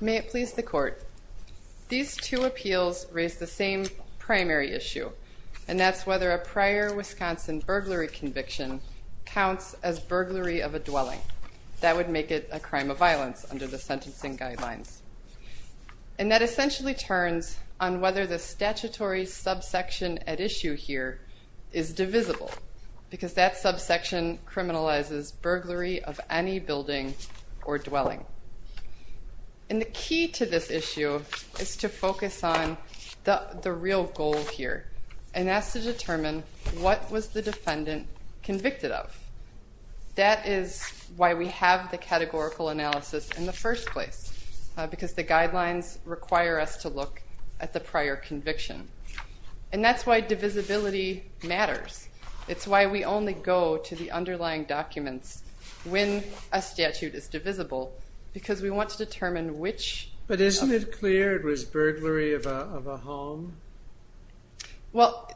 May it please the court. These two appeals raise the same primary issue and that's whether a prior Wisconsin burglary conviction counts as burglary of a dwelling. That would make it a crime of violence under the sentencing guidelines and that essentially turns on whether the statutory subsection at issue here is divisible because that subsection criminalizes burglary of any building or dwelling. And the key to this issue is to focus on the real goal here and that's to determine what was the defendant convicted of. That is why we have the categorical analysis in the first place because the guidelines require us to look at the prior conviction. And that's why divisibility matters. It's why we only go to the underlying documents when a statute is divisible because we want to determine which. But isn't it clear it was burglary of a home? Well,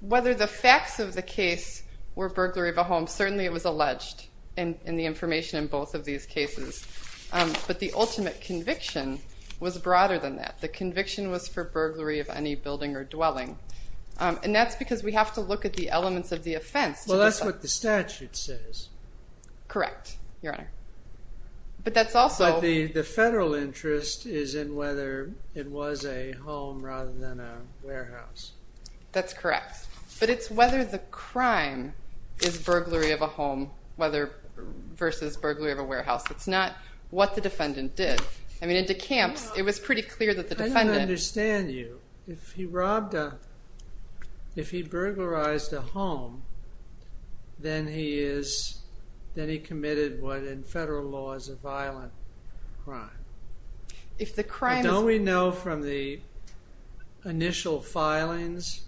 whether the facts of the case were burglary of a home is important in both of these cases. But the ultimate conviction was broader than that. The conviction was for burglary of any building or dwelling. And that's because we have to look at the elements of the offense. Well, that's what the statute says. Correct, your honor. But that's also the federal interest is in whether it was a home rather than a warehouse. That's correct. But it's whether the crime is burglary of a home versus burglary of a warehouse. It's not what the defendant did. I mean, in DeCamps it was pretty clear that the defendant... I don't understand you. If he robbed a, if he burglarized a home, then he is, then he committed what in federal law is a violent crime. If the crime... Don't we know from the initial filings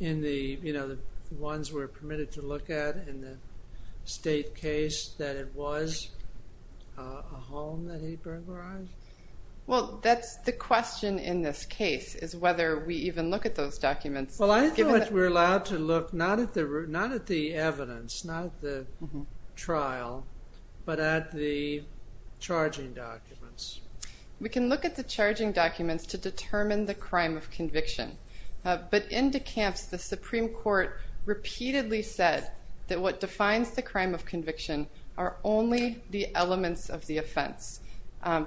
in the, you know, the ones we're permitted to look at in the state case that it was a home that he burglarized? Well, that's the question in this case is whether we even look at those documents. Well, I think we're allowed to look not at the evidence, not the trial, but at the charging documents. We can look at the charging documents to determine the crime of conviction. But in DeCamps, the Supreme Court repeatedly said that what defines the crime of conviction are only the elements of the offense.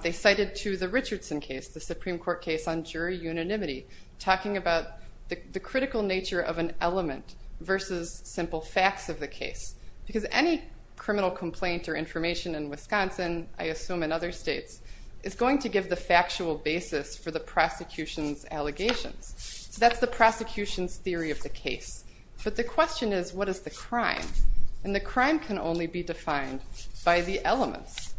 They cited to the Richardson case, the Supreme Court case on jury unanimity, talking about the critical nature of an element versus simple facts of the case. Because any criminal complaint or information in Wisconsin, I assume in other states, is going to give the factual basis for the prosecution's allegations. That's the prosecution's theory of the case. But the question is, what is the crime? And the crime can only be defined by the elements.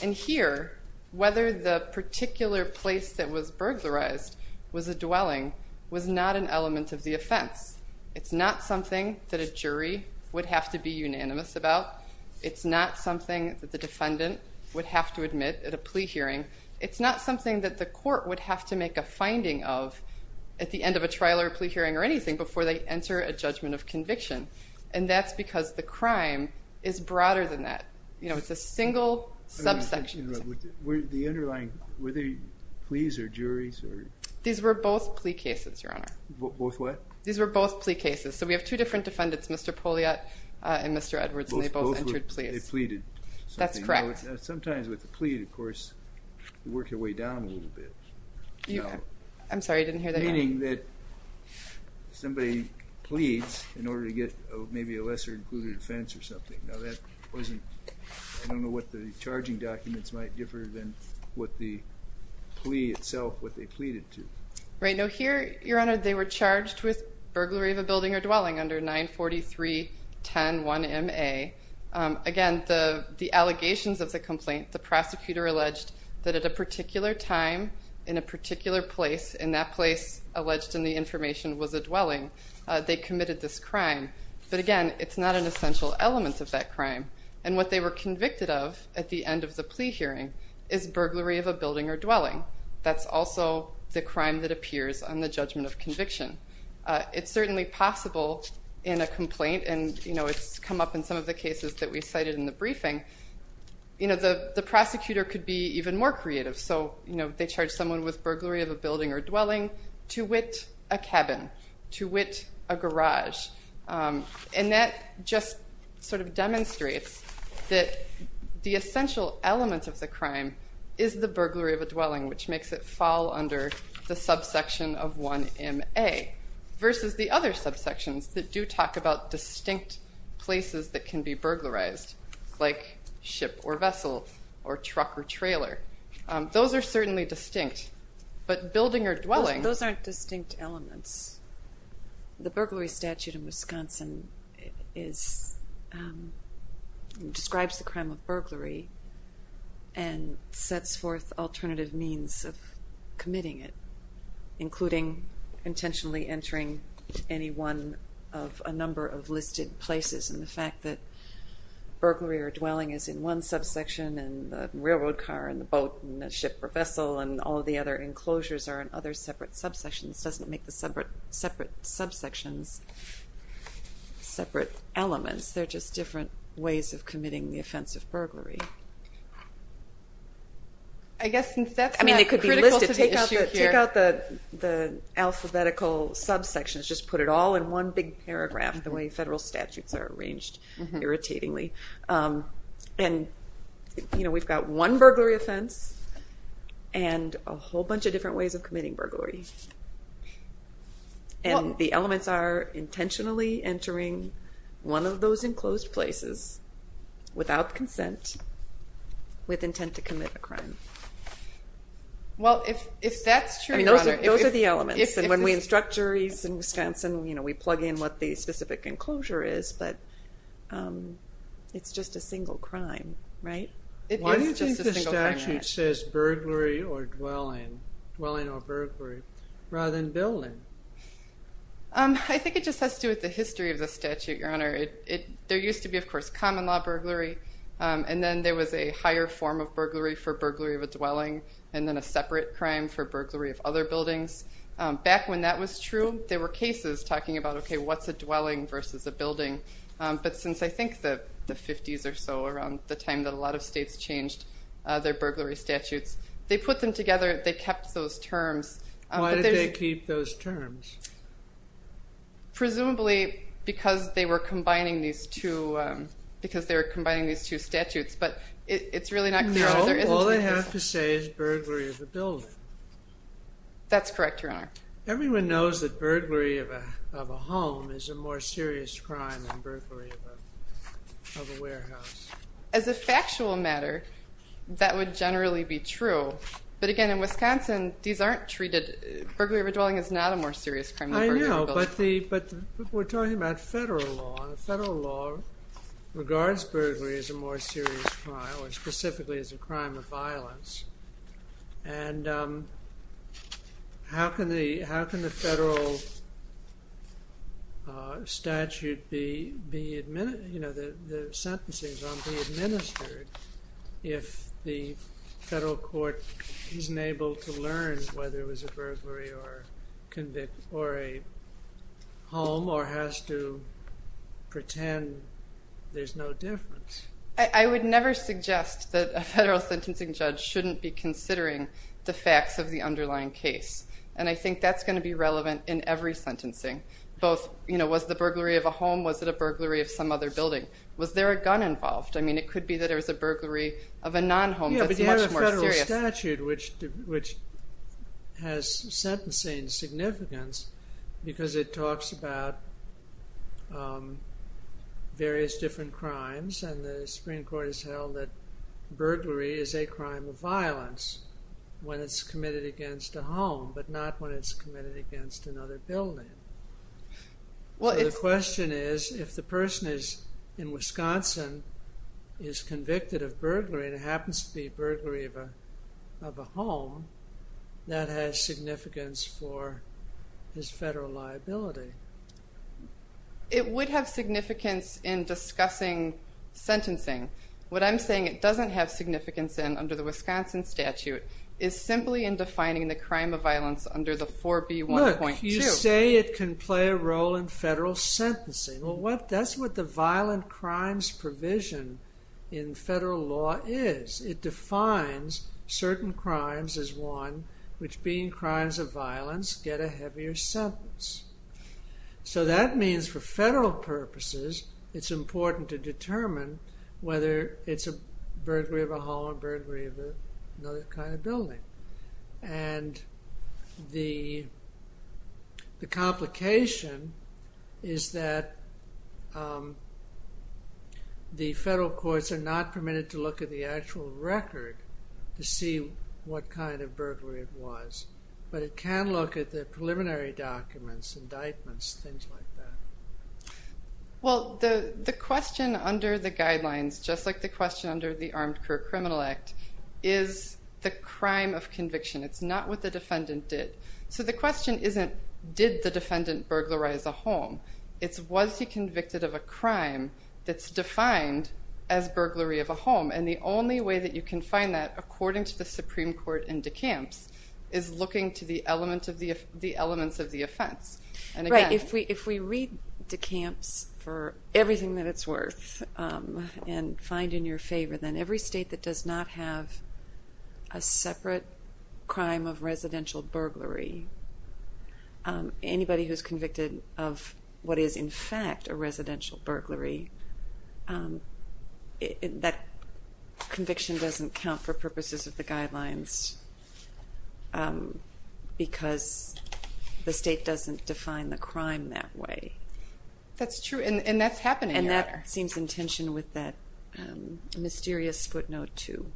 And here, whether the particular place that was burglarized was a dwelling was not an element that a jury would have to be unanimous about. It's not something that the defendant would have to admit at a plea hearing. It's not something that the court would have to make a finding of at the end of a trial or plea hearing or anything before they enter a judgment of conviction. And that's because the crime is broader than that. You know, it's a single subsection. Were the underlying, were they pleas or juries? These were both plea cases, Your Honor. Both what? These were both plea cases. So we have two different defendants, Mr. Poliat and Mr. Edwards, and they both entered pleas. They pleaded. That's correct. Sometimes with a plea, of course, you work your way down a little bit. I'm sorry, I didn't hear that. Meaning that somebody pleads in order to get maybe a lesser included offense or something. Now that wasn't, I don't know what the charging documents might differ than what the plea itself, what they pleaded to. Right, now here, Your Honor, they were charged with burglary of a building or dwelling under 943-10-1MA. Again, the allegations of the complaint, the prosecutor alleged that at a particular time, in a particular place, in that place alleged in the information was a dwelling, they committed this crime. But again, it's not an essential element of that crime. And what they were convicted of at the end of the plea hearing is burglary of a building or dwelling. That's also the crime that appears on the judgment of conviction. It's certainly possible in a complaint, and you know, it's come up in some of the cases that we cited in the briefing, you know, the prosecutor could be even more creative. So, you know, they charge someone with burglary of a building or dwelling. That just sort of demonstrates that the essential element of the crime is the burglary of a dwelling, which makes it fall under the subsection of 1MA versus the other subsections that do talk about distinct places that can be burglarized, like ship or vessel or truck or vehicle. And so, you know, the complaint describes the crime of burglary and sets forth alternative means of committing it, including intentionally entering any one of a number of listed places. And the fact that burglary or dwelling is in one subsection and the railroad car and the boat and the ship or elements, they're just different ways of committing the offense of burglary. I mean, it could be listed. Take out the alphabetical subsections, just put it all in one big paragraph, the way federal statutes are arranged irritatingly. And, you know, we've got one burglary offense and a whole bunch of different ways of committing burglary. One of those enclosed places, without consent, with intent to commit a crime. Well, if that's true, Those are the elements. And when we instruct juries in Wisconsin, you know, we plug in what the specific enclosure is, but it's just a single crime, right? Why do you think the statute says burglary or dwelling, dwelling or burglary, rather than building? I think it just has to do with the history of the statute, Your Honor. There used to be, of course, common law burglary. And then there was a higher form of burglary for burglary of a dwelling, and then a separate crime for burglary of other buildings. Back when that was true, there were cases talking about, okay, what's a dwelling versus a building. But since I think the 50s or so, around the time that a lot of states changed their burglary statutes, they put them together, they kept those terms. Why did they keep those terms? Presumably, because they were combining these two, because they were combining these two statutes, but it's really not clear. No, all they have to say is burglary of a building. That's correct, Your Honor. Everyone knows that burglary of a home is a more serious crime than burglary of a warehouse. As a factual matter, that would generally be true. But again, in Wisconsin, these aren't treated, burglary of a dwelling is not a more serious crime than burglary of a building. I know, but we're talking about federal law, and federal law regards burglary as a more serious crime, or specifically as a crime of violence. And how can the federal statute be, you know, the sentencing is going to be administered if the federal court isn't able to learn whether it was a burglary or a home, or has to pretend there's no difference? I would never suggest that a federal sentencing judge shouldn't be considering the facts of the underlying case. And I think that's going to be relevant in every sentencing, both, you know, was the burglary of a home, was it a burglary of some other building? Was there a gun involved? I mean, it could be that it was a burglary of a non-home. Yeah, but you have a federal statute, which has sentencing significance, because it talks about various different crimes. And the Supreme Court has held that burglary is a crime of violence when it's committed against a home, but not when it's committed against another building. Well, the question is, if the person is in Wisconsin, is convicted of burglary, and it happens to be burglary of a home, that has significance for his federal liability. It would have significance in discussing sentencing. What I'm saying it doesn't have significance in under the Wisconsin statute is simply in defining the crime of violence under the 4B1.2. You say it can play a role in federal sentencing. Well, that's what the violent crimes provision in federal law is. It defines certain crimes as one, which being crimes of violence, get a heavier sentence. So that means for federal purposes, it's important to determine whether it's a burglary of a home, burglary of another kind of building. And the complication is that the federal courts are not permitted to look at the actual record to see what kind of burglary it was. But it can look at the preliminary documents, indictments, things like that. Well, the question under the guidelines, just like the question under the Armed Career Criminal Act, is the crime of conviction. It's not what the defendant did. So the question isn't, did the defendant burglarize a home? It's, was he convicted of a crime that's defined as burglary of a home? And the only way that you can find that, according to the Supreme Court in DeKalb's, is looking to the elements of the offense. Right. If we read DeKalb's for everything that it's worth and find in your favor, then every state that does not have a separate crime of residential burglary, anybody who's convicted of what is, in fact, a residential burglary, that conviction doesn't count for purposes of the guidelines because the state doesn't define the crime that way. That's true. And that's happening. And that seems in tension with that mysterious footnote, too,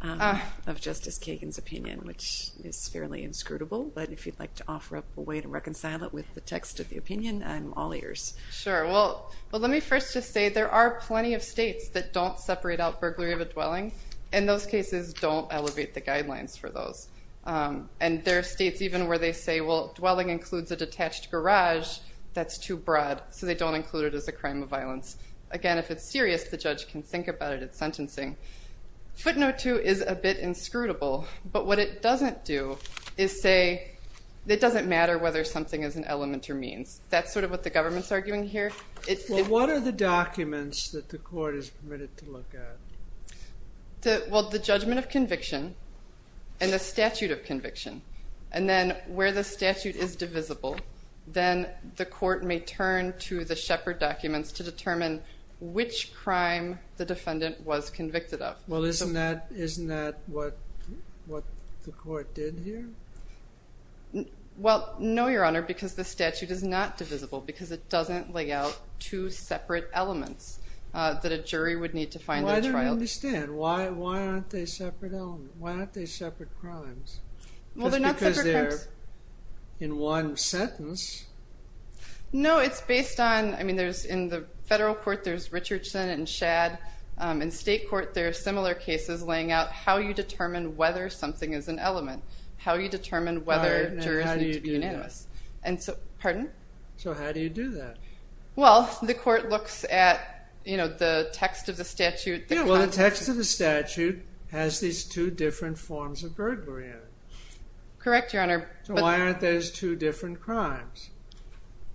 of Justice Kagan's opinion, which is fairly inscrutable. But if you'd like to offer up a way to reconcile it with the text of the opinion, I'm all ears. Sure. Well, let me first just say there are plenty of states that don't separate out burglary of a dwelling. And those cases don't elevate the guidelines for those. And there are states even where they say, well, dwelling includes a detached garage. That's too broad. So they don't include it as a crime of violence. Again, if it's serious, the judge can think about it at sentencing. Footnote two is a bit inscrutable. But what it doesn't do is say it doesn't matter whether something is an element or means. That's sort of what the government's arguing here. What are the documents that the court is permitted to look at? Well, the judgment of conviction and the statute of conviction. And then where the statute is divisible, then the court may turn to the Shepard documents to determine which crime the defendant was convicted of. Well, isn't that isn't that what what the court did here? Well, no, Your Honor, because the statute is not divisible because it doesn't lay out two separate elements that a jury would need to find. Why don't I understand? Why aren't they separate elements? Why aren't they separate crimes? Well, they're not separate crimes. Just because they're in one sentence. No, it's based on, I mean, there's in the federal court, there's Richardson and Shad. In state court, there are similar cases laying out how you determine whether something is an element, how you determine whether jurors need to be unanimous. And so, pardon? So how do you do that? Well, the court looks at, you know, the text of the statute. Yeah, well, the text of the statute has these two different forms of burglary in it. Correct, Your Honor. So why aren't those two different crimes?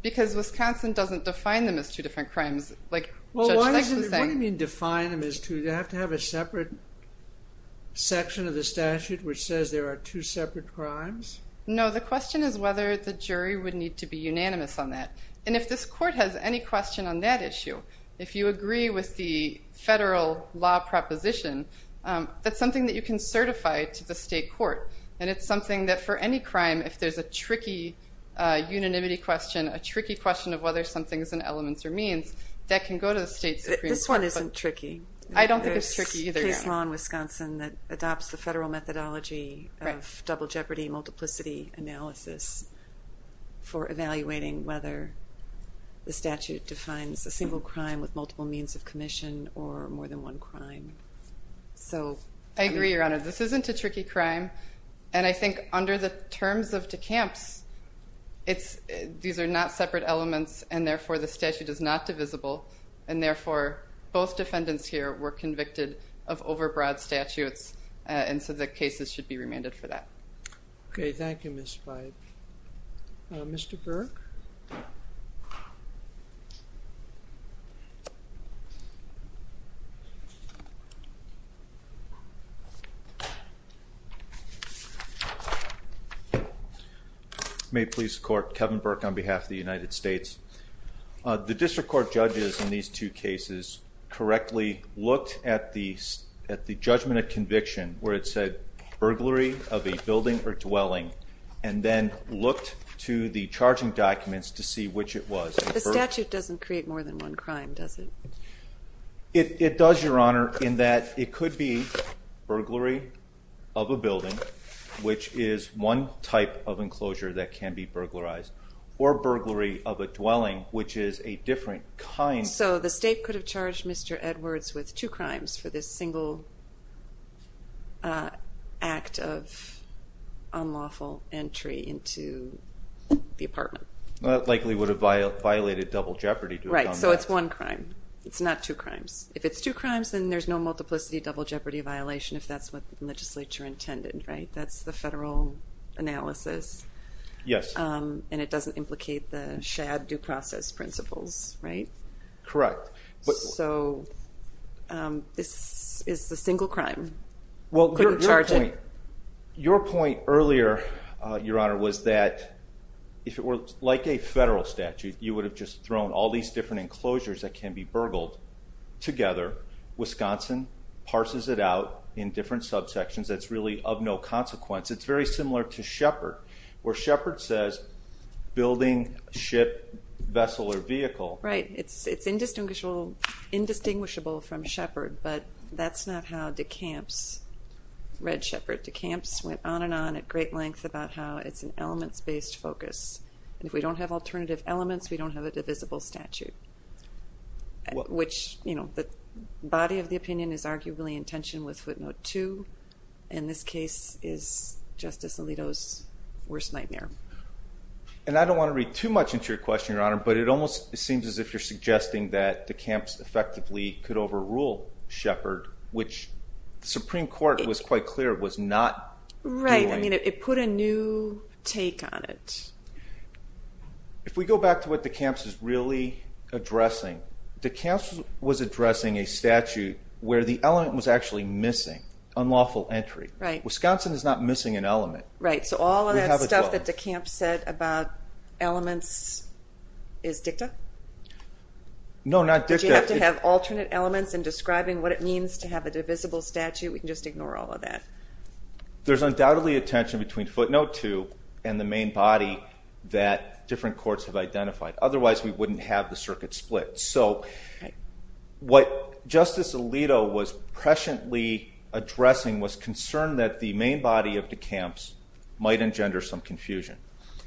Because Wisconsin doesn't define them as two different crimes. Like, well, why do you mean define them as two? Do they have to have a separate section of the statute which says there are two separate crimes? No, the question is whether the jury would need to be unanimous on that. And if this court has any question on that issue, if you agree with the federal law proposition, that's something that you can certify to the state court. And it's something that for any crime, if there's a tricky unanimity question, a tricky question of whether something is an element or means, that can go to the state supreme court. This one isn't tricky. I don't think it's tricky either, Your Honor. There's case law in Wisconsin that adopts the federal methodology of double jeopardy, multiplicity analysis for evaluating whether the statute defines a single crime with multiple means of commission or more than one crime. So I agree, Your Honor. This isn't a tricky crime. And I think under the terms of DeCamps, these are not separate elements, and therefore the statute is not divisible. And therefore, both defendants here were convicted of overbroad statutes. And so the cases should be remanded for that. Okay. Thank you, Ms. Frey. Mr. Burke. May it please the court. Kevin Burke on behalf of the United States. The district court judges in these two cases correctly looked at the judgment of conviction, where it said burglary of a building or dwelling, and then looked to the charging documents to see which it was. The statute doesn't create more than one crime, does it? It does, Your Honor, in that it could be burglary of a building, which is one type of enclosure that can be burglarized, or burglary of a dwelling, which is a different kind. So the state could have charged Mr. Edwards with two crimes for this single act of unlawful entry into the apartment. That likely would have violated double jeopardy to have done that. Right. So it's one crime. It's not two crimes. If it's two crimes, then there's no multiplicity double jeopardy violation, if that's what the legislature intended, right? That's the federal analysis. Yes. And it doesn't implicate the shad due process principles, right? Correct. So this is the single crime. Well, your point earlier, Your Honor, was that if it were like a federal statute, you would have just thrown all these different enclosures that can be burgled together. Wisconsin parses it out in different subsections. That's really of no consequence. It's very similar to Shepard, where Shepard says building, ship, vessel, or vehicle. Right. It's indistinguishable from Shepard, but that's not how DeCamps read Shepard. DeCamps went on and on at great length about how it's an elements-based focus. And if we don't have alternative elements, we don't have a divisible statute, which the body of the opinion is arguably in tension with footnote two. And this case is Justice Alito's worst nightmare. And I don't want to read too much into your question, Your Honor, but it almost seems as if you're suggesting that DeCamps effectively could overrule Shepard, which the Supreme Court was quite clear was not doing. Right. I mean, it put a new take on it. If we go back to what DeCamps is really addressing, DeCamps was addressing a statute where the element was actually missing, unlawful entry. Right. Wisconsin is not missing an element. Right. So all of that stuff that DeCamps said about elements is dicta? No, not dicta. Did you have to have alternate elements in describing what it means to have a divisible statute? We can just ignore all of that. There's undoubtedly a tension between footnote two and the main body that different courts have identified. Otherwise, we wouldn't have the circuit split. So what Justice Alito was presciently addressing was concern that the main body of DeCamps might engender some confusion.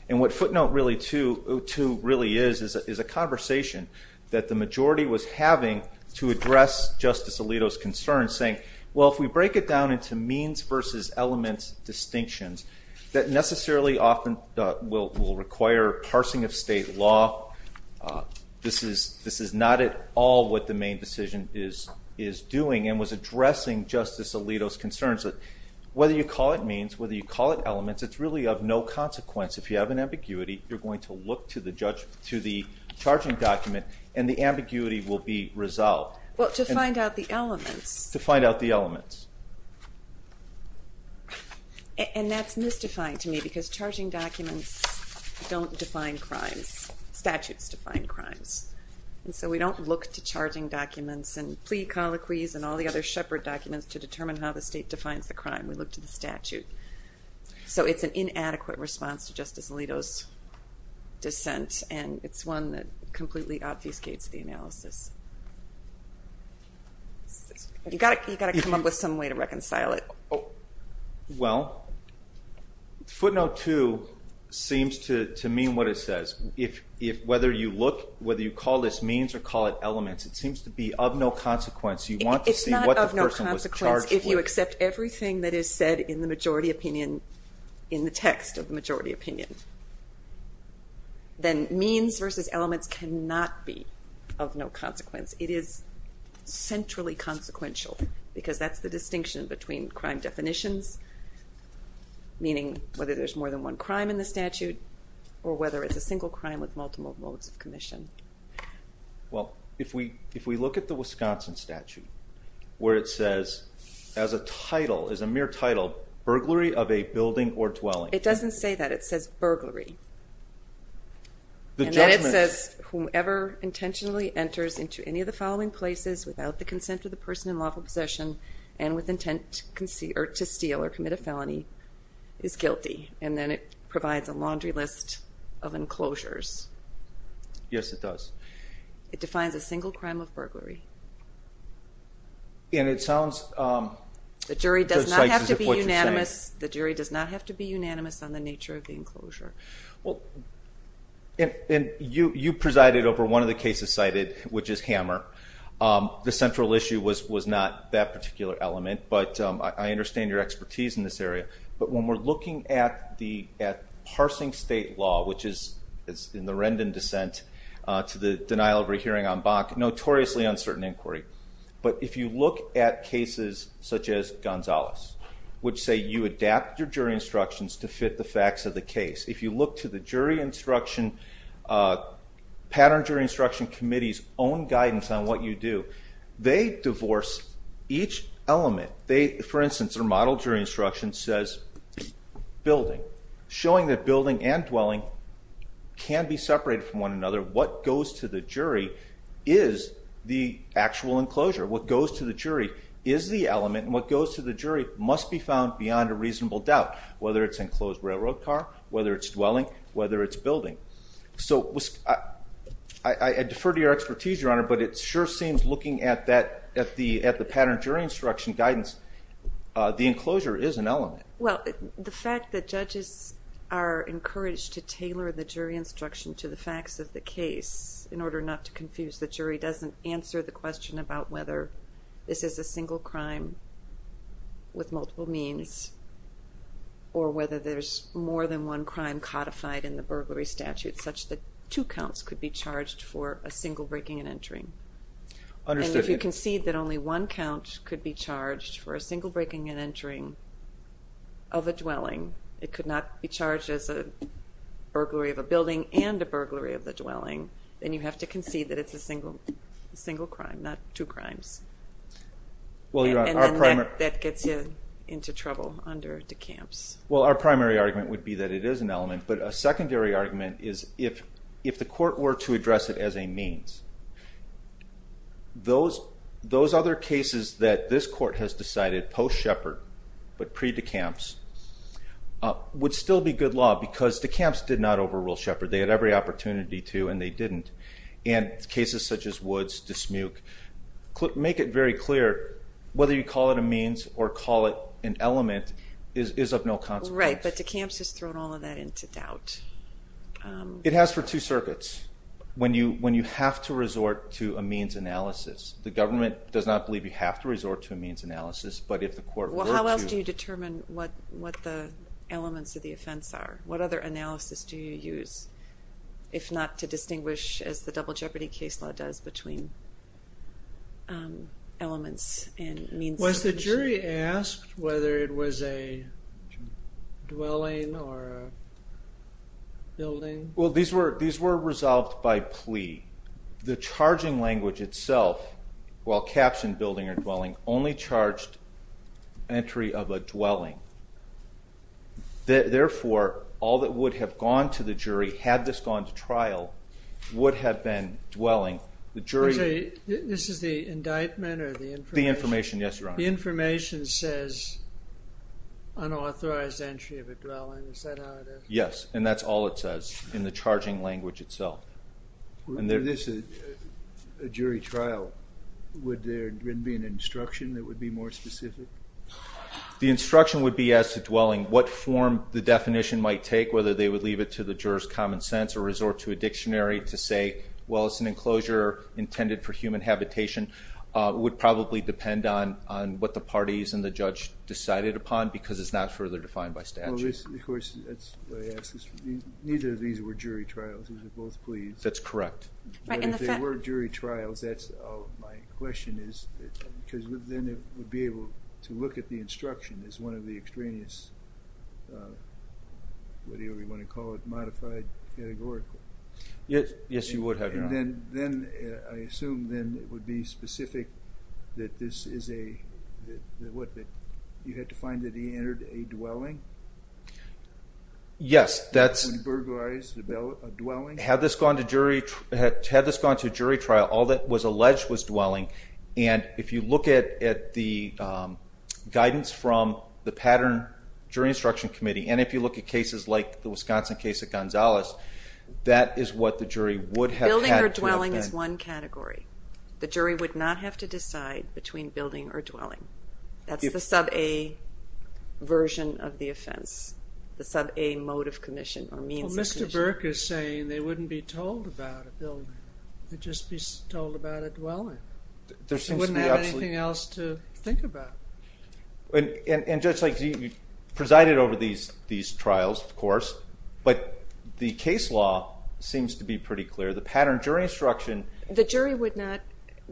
And what footnote really two really is, is a conversation that the majority was having to address Justice Alito's concern saying, well, if we break it down into means versus elements distinctions that necessarily often will require parsing of state law. This is not at all what the main decision is doing and was addressing Justice Alito's concerns that whether you call it means, whether you call it elements, it's really of no consequence. If you have an ambiguity, you're going to look to the charging document and the ambiguity will be resolved. Well, to find out the elements. To find out the elements. And that's mystifying to me because charging documents don't define crimes, statutes define crimes. And so we don't look to charging documents and plea colloquies and all the other shepherd documents to determine how the state defines the crime. We look to the statute. So it's an inadequate response to Justice Alito's dissent and it's one that completely obfuscates the analysis. You've got to come up with some way to reconcile it. Well, footnote two seems to mean what it says. If whether you look, whether you call this means or call it elements, it seems to be of no consequence. You want to see what the person was charged with. If you accept everything that is said in the majority opinion, in the text of the majority opinion, then means versus elements cannot be of no consequence. It is centrally consequential because that's the distinction between crime definitions, meaning whether there's more than one crime in the statute or whether it's a single crime with multiple modes of commission. Well, if we look at the Wisconsin statute where it says as a title, as a mere title, burglary of a building or dwelling. It doesn't say that. It says burglary. And then it says whomever intentionally enters into any of the following places without the consent of the person in lawful possession and with intent to steal or commit a felony is guilty. And then it provides a laundry list of enclosures. Yes, it does. It defines a single crime of burglary. And it sounds. The jury does not have to be unanimous. The jury does not have to be unanimous on the nature of the enclosure. And you presided over one of the cases cited, which is Hammer. The central issue was not that particular element, but I understand your expertise in this area. But when we're looking at parsing state law, which is in the Rendon dissent to the denial of a hearing on Bach, notoriously uncertain inquiry. But if you look at cases such as Gonzalez, which say you adapt your jury instructions to fit the facts of the case. If you look to the jury instruction, Pattern Jury Instruction Committee's own guidance on what you do, they divorce each element. They, for instance, are model jury instruction says building, showing that building and dwelling can be separated from one another. What goes to the jury is the actual enclosure. What goes to the jury is the element. What goes to the jury must be found beyond a reasonable doubt, whether it's enclosed railroad car, whether it's dwelling, whether it's building. So I defer to your expertise, Your Honor, but it sure seems looking at that at the at the pattern jury instruction guidance, the enclosure is an element. Well, the fact that judges are encouraged to tailor the jury instruction to the facts of the case in order not to confuse the jury doesn't answer the question about whether this is a single crime. With multiple means. Or whether there's more than one crime codified in the burglary statute such that two counts could be charged for a single breaking and entering. If you concede that only one count could be charged for a single breaking and entering of a dwelling, it could not be charged as a burglary of a building and a burglary of the dwelling. Then you have to concede that it's a single crime, not two crimes. And then that gets you into trouble under DeCamps. Well, our primary argument would be that it is an element. But a secondary argument is if the court were to address it as a means, those other cases that this court has decided post-Shepard but pre-DeCamps would still be good law because DeCamps did not overrule Shepard. They had every opportunity to and they didn't. And cases such as Woods, Dismuke, make it very clear whether you call it a means or call it an element is of no consequence. Right, but DeCamps has thrown all of that into doubt. It has for two circuits. When you have to resort to a means analysis. The government does not believe you have to resort to a means analysis, but if the court were to... Well, how else do you determine what the elements of the offense are? What other analysis do you use, if not to distinguish, as the Double Jeopardy case law does, between elements and means? Was the jury asked whether it was a dwelling or a building? Well, these were resolved by plea. The charging language itself, while captioned building or dwelling, only charged entry of a dwelling. Therefore, all that would have gone to the jury, had this gone to trial, would have been dwelling. This is the indictment or the information? The information, yes, Your Honor. The information says unauthorized entry of a dwelling. Is that how it is? Yes, and that's all it says in the charging language itself. Were this a jury trial, would there be an instruction that would be more specific? The instruction would be, as to dwelling, what form the definition might take, whether they would leave it to the juror's common sense or resort to a dictionary to say, well, it's an enclosure intended for human habitation. It would probably depend on what the parties and the judge decided upon, because it's not further defined by statute. Well, this, of course, that's what I ask. Neither of these were jury trials. These were both pleas. That's correct. But if they were jury trials, that's all my question is, because then it would be able to look at the instruction as one of the extraneous, whatever you want to call it, modified, categorical. Yes, you would have, Your Honor. And then I assume then it would be specific that this is a, what, that you had to find that he entered a dwelling? Yes, that's. Would he burglarize a dwelling? Had this gone to jury trial, all that was alleged was dwelling, and if you look at the guidance from the Pattern Jury Instruction Committee, and if you look at cases like the Wisconsin case of Gonzalez, that is what the jury would have had to have been. Building or dwelling is one category. The jury would not have to decide between building or dwelling. That's the sub-A version of the offense, the sub-A mode of commission or means of commission. Well, Mr. Burke is saying they wouldn't be told about a building. They'd just be told about a dwelling. They wouldn't have anything else to think about. And Judge Lake, you presided over these trials, of course, but the case law seems to be pretty clear. The Pattern Jury Instruction. The jury would not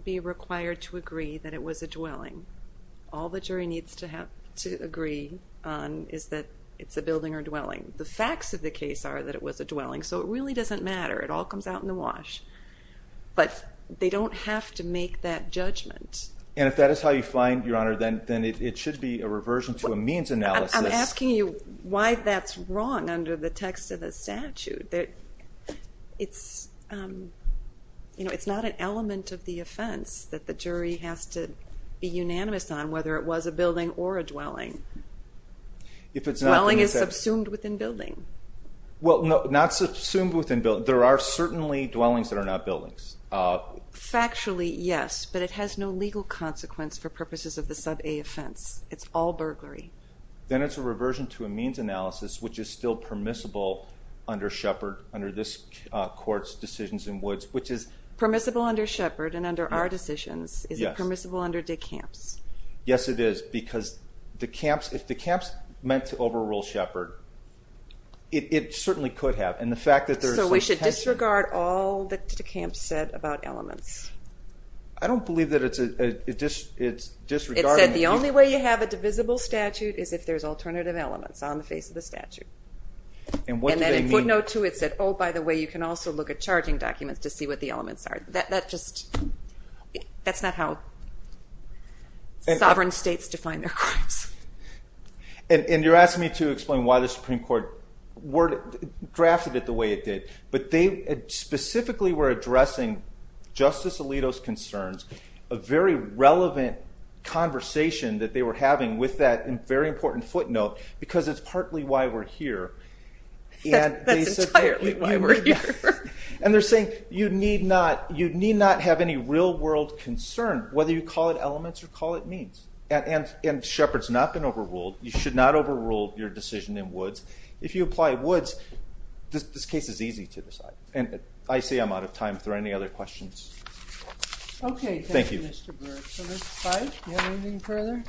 be required to agree that it was a dwelling. The facts of the case are that it was a dwelling, so it really doesn't matter. It all comes out in the wash. But they don't have to make that judgment. And if that is how you find, Your Honor, then it should be a reversion to a means analysis. I'm asking you why that's wrong under the text of the statute. It's not an element of the offense that the jury has to be unanimous on, whether it was a building or a dwelling. Dwelling is subsumed within building. Well, not subsumed within building. There are certainly dwellings that are not buildings. Factually, yes, but it has no legal consequence for purposes of the sub-A offense. It's all burglary. Then it's a reversion to a means analysis, which is still permissible under Shepard, under this Court's decisions in Woods, which is. Permissible under Shepard and under our decisions. Is it permissible under DeCamps? Yes, it is, because if DeCamps meant to overrule Shepard, it certainly could have. So we should disregard all that DeCamps said about elements? I don't believe that it's disregarding. It said the only way you have a divisible statute is if there's alternative elements on the face of the statute. And what did they mean? And then in footnote 2 it said, oh, by the way, you can also look at charging documents to see what the elements are. That's not how sovereign states define their crimes. And you're asking me to explain why the Supreme Court drafted it the way it did, but they specifically were addressing Justice Alito's concerns, a very relevant conversation that they were having with that very important footnote, because it's partly why we're here. That's entirely why we're here. And they're saying you need not have any real-world concern whether you call it elements or call it means. And Shepard's not been overruled. You should not overrule your decision in Woods. If you apply Woods, this case is easy to decide. And I see I'm out of time. Are there any other questions? Okay, thank you, Mr. Burke. Ms. Pike, do you have anything further?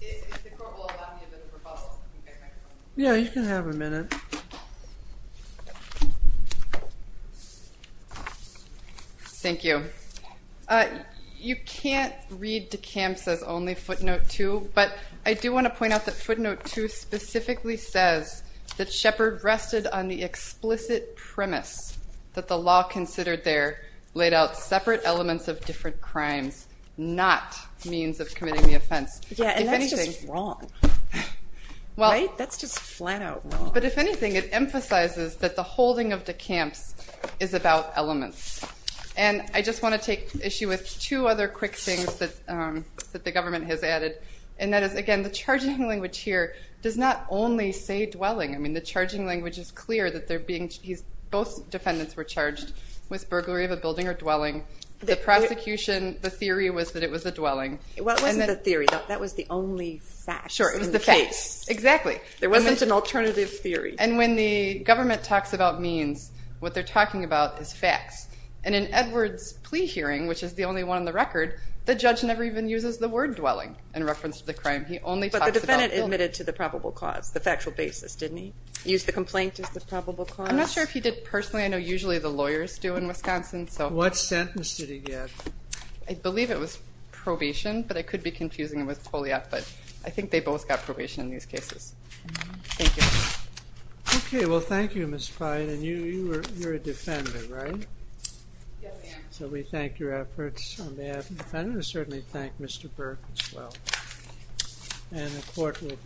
If the Court will allow me a bit of a rebuttal. Yeah, you can have a minute. Thank you. You can't read DeKalb says only footnote 2, but I do want to point out that footnote 2 specifically says that Shepard rested on the explicit premise that the law considered there laid out separate elements of different crimes, not means of committing the offense. Yeah, and that's just wrong. Right? That's just flat-out wrong. But if anything, it emphasizes that the holding of DeKalb's is about elements. And I just want to take issue with two other quick things that the government has added, and that is, again, the charging language here does not only say dwelling. I mean, the charging language is clear that both defendants were charged with burglary of a building or dwelling. The theory was that it was a dwelling. Well, it wasn't the theory. That was the only facts in the case. Sure, it was the facts. Exactly. There wasn't an alternative theory. And when the government talks about means, what they're talking about is facts. And in Edwards' plea hearing, which is the only one on the record, the judge never even uses the word dwelling in reference to the crime. He only talks about dwelling. But the defendant admitted to the probable cause, the factual basis, didn't he? Used the complaint as the probable cause? I'm not sure if he did personally. I know usually the lawyers do in Wisconsin. What sentence did he get? I believe it was probation, but I could be confusing it with polio. But I think they both got probation in these cases. Thank you. Okay. Well, thank you, Ms. Pride. And you're a defender, right? Yes, ma'am. So we thank your efforts on behalf of the defendant. We certainly thank Mr. Burke as well. And the court will be in recess.